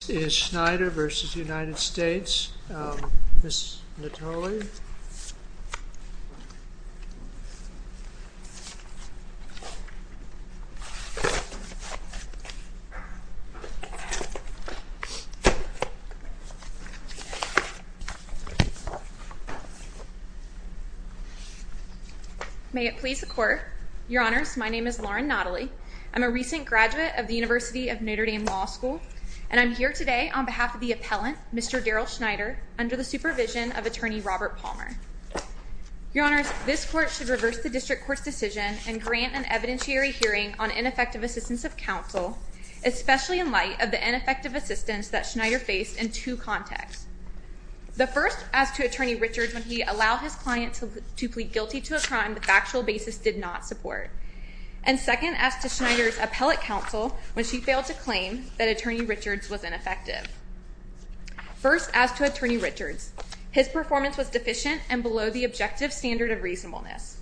This is Schneider v. United States. Ms. Nathalie. May it please the Court. Your Honors, my name is Lauren Nathalie. I'm a recent graduate of the University of Notre Dame Law School. And I'm here today on behalf of the appellant, Mr. Darrell Schneider, under the supervision of Attorney Robert Palmer. Your Honors, this Court should reverse the District Court's decision and grant an evidentiary hearing on ineffective assistance of counsel, especially in light of the ineffective assistance that Schneider faced in two contexts. The first, as to Attorney Richards, when he allowed his client to plead guilty to a crime the factual basis did not support. And second, as to Schneider's appellate counsel when she failed to claim that Attorney Richards was ineffective. First, as to Attorney Richards, his performance was deficient and below the objective standard of reasonableness.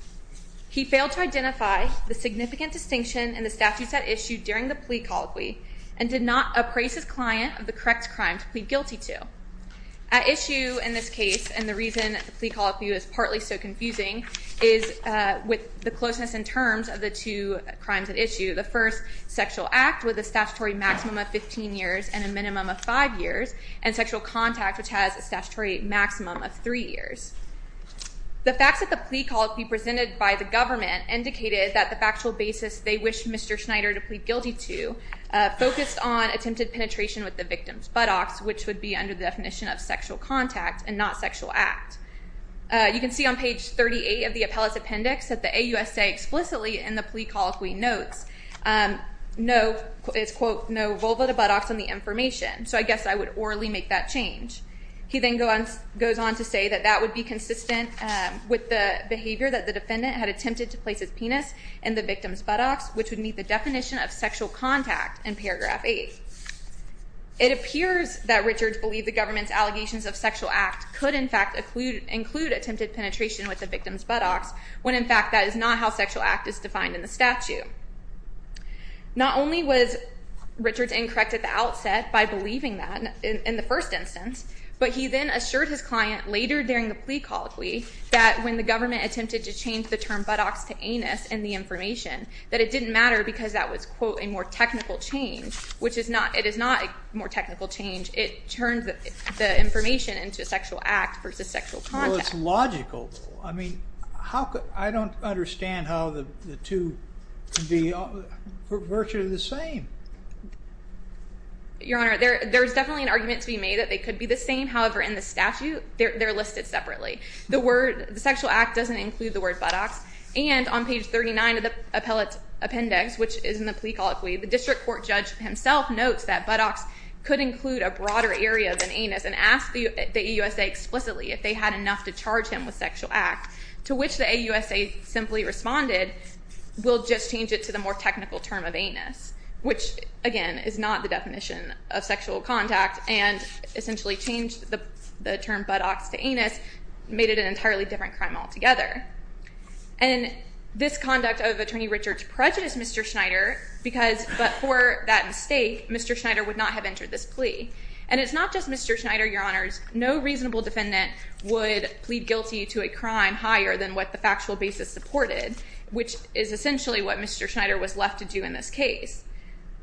He failed to identify the significant distinction in the statutes at issue during the plea colloquy and did not appraise his client of the correct crime to plead guilty to. At issue in this case, and the reason the plea colloquy was partly so confusing, is with the closeness in terms of the two crimes at issue. The first, sexual act, with a statutory maximum of 15 years and a minimum of 5 years, and sexual contact, which has a statutory maximum of 3 years. The facts of the plea colloquy presented by the government indicated that the factual basis they wished Mr. Schneider to plead guilty to focused on attempted penetration with the victim's buttocks, which would be under the definition of sexual contact and not sexual act. You can see on page 38 of the appellate's appendix that the AUSA explicitly in the plea colloquy notes no, it's quote, no vulva to buttocks on the information. So I guess I would orally make that change. He then goes on to say that that would be consistent with the behavior that the defendant had attempted to place his penis in the victim's buttocks, which would meet the definition of sexual contact in paragraph 8. It appears that Richards believed the government's allegations of sexual act could in fact include attempted penetration with the victim's buttocks when in fact that is not how sexual act is defined in the statute. Not only was Richards incorrect at the outset by believing that in the first instance, but he then assured his client later during the plea colloquy that when the government attempted to change the term buttocks to anus and the information, that it didn't matter because that was, quote, a more technical change, which it is not a more technical change. It turns the information into a sexual act versus sexual contact. Well, it's logical. I mean, I don't understand how the two could be virtually the same. Your Honor, there's definitely an argument to be made that they could be the same. However, in the statute, they're listed separately. The word sexual act doesn't include the word buttocks, and on page 39 of the appellate appendix, which is in the plea colloquy, the district court judge himself notes that buttocks could include a broader area than anus and asked the AUSA explicitly if they had enough to charge him with sexual act, to which the AUSA simply responded, we'll just change it to the more technical term of anus, which, again, is not the definition of sexual contact, and essentially changed the term buttocks to anus, made it an entirely different crime altogether. And this conduct of Attorney Richard's prejudiced Mr. Schneider because for that mistake, Mr. Schneider would not have entered this plea. And it's not just Mr. Schneider, Your Honors. No reasonable defendant would plead guilty to a crime higher than what the factual basis supported, which is essentially what Mr. Schneider was left to do in this case.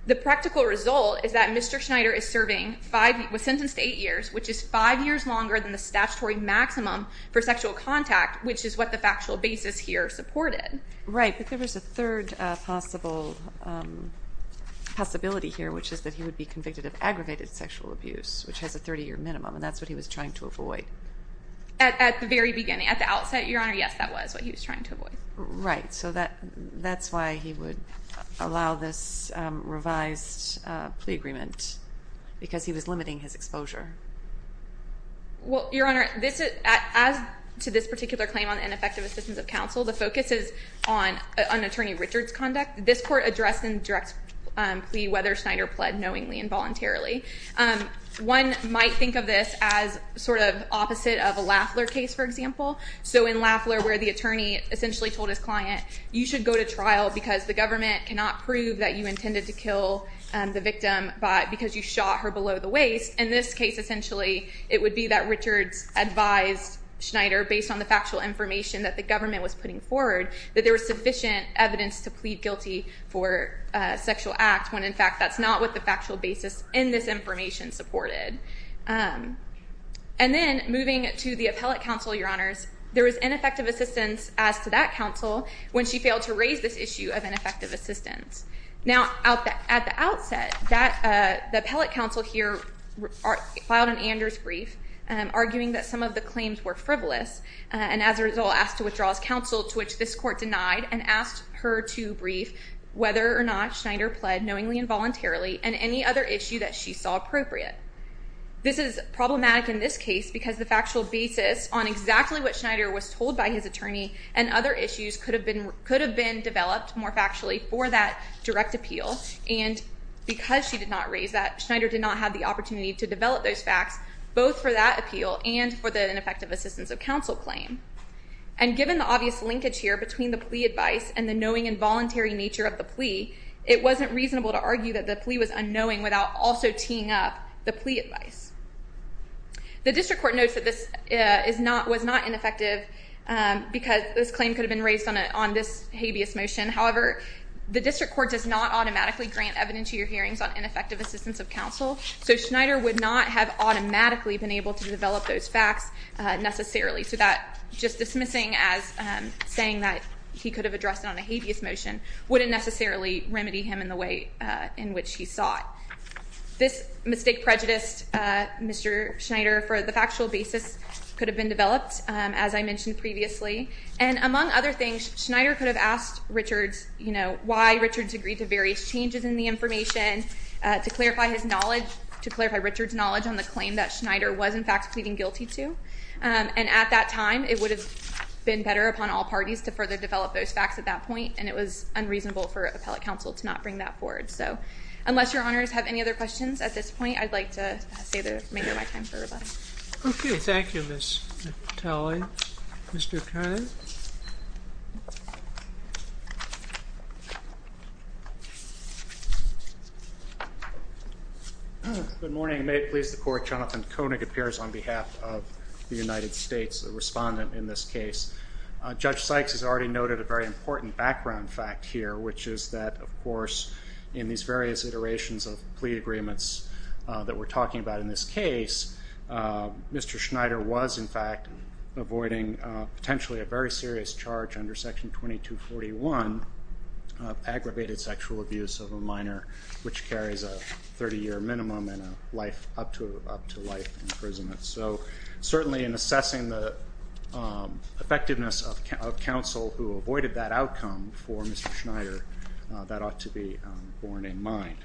The practical result is that Mr. Schneider was sentenced to 8 years, which is 5 years longer than the statutory maximum for sexual contact, which is what the factual basis here supported. Right, but there was a third possibility here, which is that he would be convicted of aggravated sexual abuse, which has a 30-year minimum, and that's what he was trying to avoid. At the very beginning. At the outset, Your Honor, yes, that was what he was trying to avoid. Right, so that's why he would allow this revised plea agreement, because he was limiting his exposure. Well, Your Honor, as to this particular claim on ineffective assistance of counsel, the focus is on Attorney Richard's conduct. This court addressed in direct plea whether Schneider pled knowingly and voluntarily. One might think of this as sort of opposite of a Lafler case, for example. So in Lafler, where the attorney essentially told his client, you should go to trial because the government cannot prove that you intended to kill the victim because you shot her below the waist. In this case, essentially, it would be that Richard advised Schneider, based on the factual information that the government was putting forward, that there was sufficient evidence to plead guilty for a sexual act, when in fact that's not what the factual basis in this information supported. And then, moving to the appellate counsel, Your Honors, there was ineffective assistance as to that counsel when she failed to raise this issue of ineffective assistance. Now, at the outset, the appellate counsel here filed an Anders brief, arguing that some of the claims were frivolous, and as a result asked to withdraw his counsel, to which this court denied, and asked her to brief whether or not Schneider pled knowingly and voluntarily and any other issue that she saw appropriate. This is problematic in this case because the factual basis on exactly what Schneider was told by his attorney and other issues could have been developed more factually for that direct appeal, and because she did not raise that, Schneider did not have the opportunity to develop those facts, both for that appeal and for the ineffective assistance of counsel claim. And given the obvious linkage here between the plea advice and the knowing and voluntary nature of the plea, it wasn't reasonable to argue that the plea was unknowing without also teeing up the plea advice. The district court notes that this was not ineffective because this claim could have been raised on this habeas motion. However, the district court does not automatically grant evidence to your hearings on ineffective assistance of counsel, so Schneider would not have automatically been able to develop those facts necessarily, so that just dismissing as saying that he could have addressed it on a habeas motion wouldn't necessarily remedy him in the way in which he sought. This mistake prejudice, Mr. Schneider, for the factual basis could have been developed, as I mentioned previously, and among other things, Schneider could have asked Richards why Richards agreed to various changes in the information to clarify his knowledge, to clarify Richards' knowledge on the claim that Schneider was in fact pleading guilty to, and at that time it would have been better upon all parties to further develop those facts at that point, and it was unreasonable for appellate counsel to not bring that forward. So unless your honors have any other questions at this point, I'd like to make it my time for rebuttal. Okay. Thank you, Ms. Talley. Mr. Koenig? Good morning. May it please the court, Jonathan Koenig appears on behalf of the United States, a respondent in this case. Judge Sykes has already noted a very important background fact here, which is that, of course, in these various iterations of plea agreements that we're talking about in this case, Mr. Schneider was in fact avoiding potentially a very serious charge under Section 2241 of aggravated sexual abuse of a minor which carries a 30-year minimum and up to life imprisonment. So certainly in assessing the effectiveness of counsel who avoided that outcome for Mr. Schneider, that ought to be borne in mind.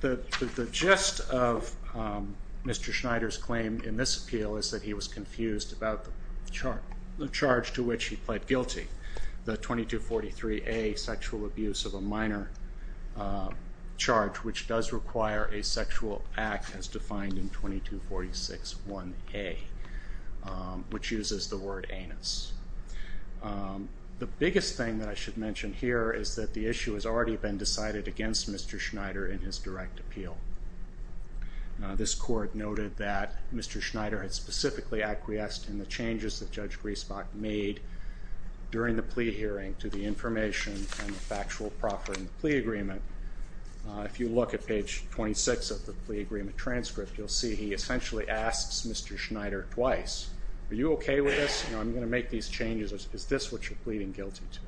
The gist of Mr. Schneider's claim in this appeal is that he was confused about the charge to which he pled guilty, the 2243A sexual abuse of a minor charge, which does require a sexual act as defined in 2246 1A, which uses the word anus. The biggest thing that I should mention here is that the issue has already been decided against Mr. Schneider in his direct appeal. This court noted that Mr. Schneider had specifically acquiesced in the changes that Judge Griesbach made during the plea hearing to the information and the factual proffer in the plea agreement. If you look at page 26 of the plea agreement transcript, you'll see he essentially asks Mr. Schneider twice, are you okay with this? I'm going to make these changes. Is this what you're pleading guilty to?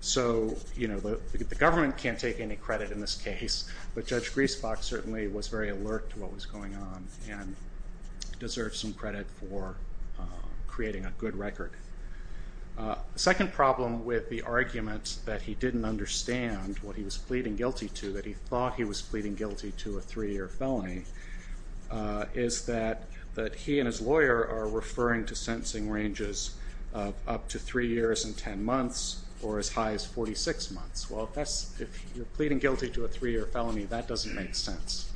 So the government can't take any credit in this case, but Judge Griesbach certainly was very alert to what was going on and deserves some credit for creating a good record. The second problem with the argument that he didn't understand what he was pleading guilty to, that he thought he was pleading guilty to a three-year felony, is that he and his lawyer are referring to sentencing ranges of up to three years and ten months or as high as 46 months. Well, if you're pleading guilty to a three-year felony, that doesn't make sense.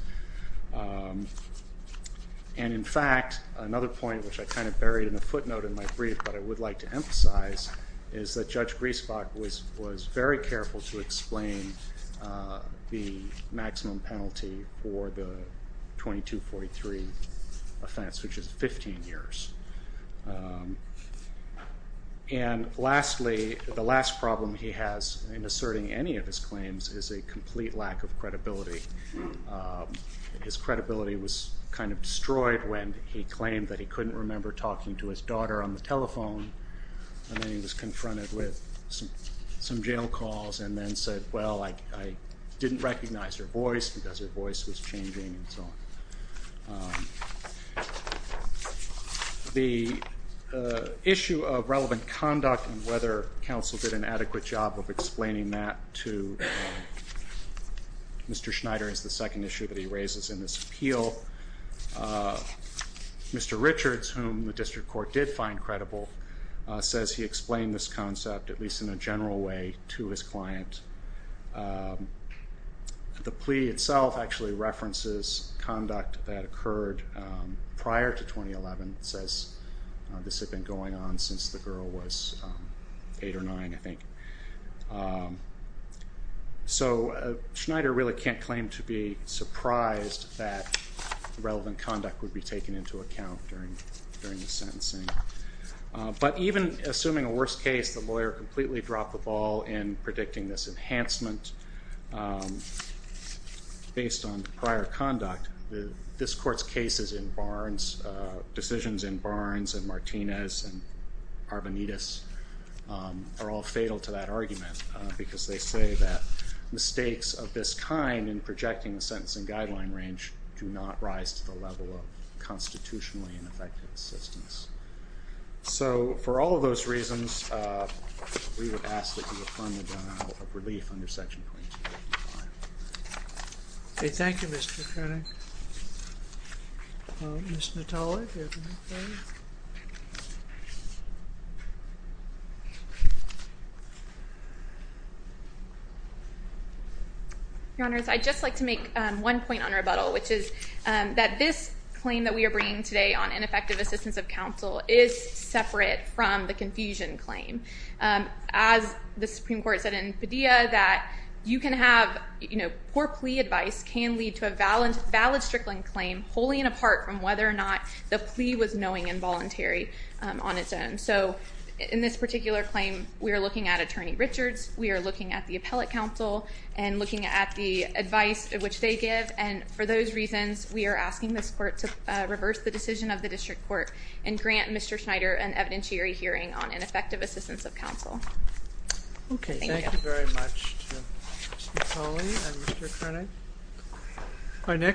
And, in fact, another point which I kind of buried in a footnote in my brief, but I would like to emphasize, is that Judge Griesbach was very careful to explain the maximum penalty for the 2243 offense, which is 15 years. And lastly, the last problem he has in asserting any of his claims is a complete lack of credibility. His credibility was kind of destroyed when he claimed that he couldn't remember talking to his daughter on the telephone and then he was confronted with some jail calls and then said, well, I didn't recognize her voice because her voice was changing and so on. The issue of relevant conduct and whether counsel did an adequate job of explaining that to Mr. Schneider is the second issue that he raises in this appeal. Mr. Richards, whom the district court did find credible, says he explained this concept, at least in a general way, to his client. The plea itself actually references conduct that occurred prior to 2011. It says this had been going on since the girl was eight or nine, I think. So Schneider really can't claim to be surprised that relevant conduct would be taken into account during the sentencing. But even assuming a worst case, the lawyer completely dropped the ball in predicting this enhancement based on prior conduct. This court's cases in Barnes, decisions in Barnes and Martinez and Arbonitas are all fatal to that argument because they say that mistakes of this kind in projecting the sentencing guideline range do not rise to the level of constitutionally ineffective assistance. So for all of those reasons, we would ask that you affirm the denial of relief under Section 22. Okay, thank you, Mr. Koenig. Ms. Natale, do you have anything? Your Honors, I'd just like to make one point on rebuttal, which is that this claim that we are bringing today on ineffective assistance of counsel is separate from the confusion claim. As the Supreme Court said in Padilla, that you can have poor plea advice can lead to a valid Strickland claim wholly and apart from whether or not the plea was knowing and voluntary on its own. So in this particular claim, we are looking at Attorney Richards, we are looking at the appellate counsel and looking at the advice which they give. And for those reasons, we are asking this court to reverse the decision of the district court and grant Mr. Schneider an evidentiary hearing on ineffective assistance of counsel. Okay, thank you very much Ms. Natale and Mr. Koenig.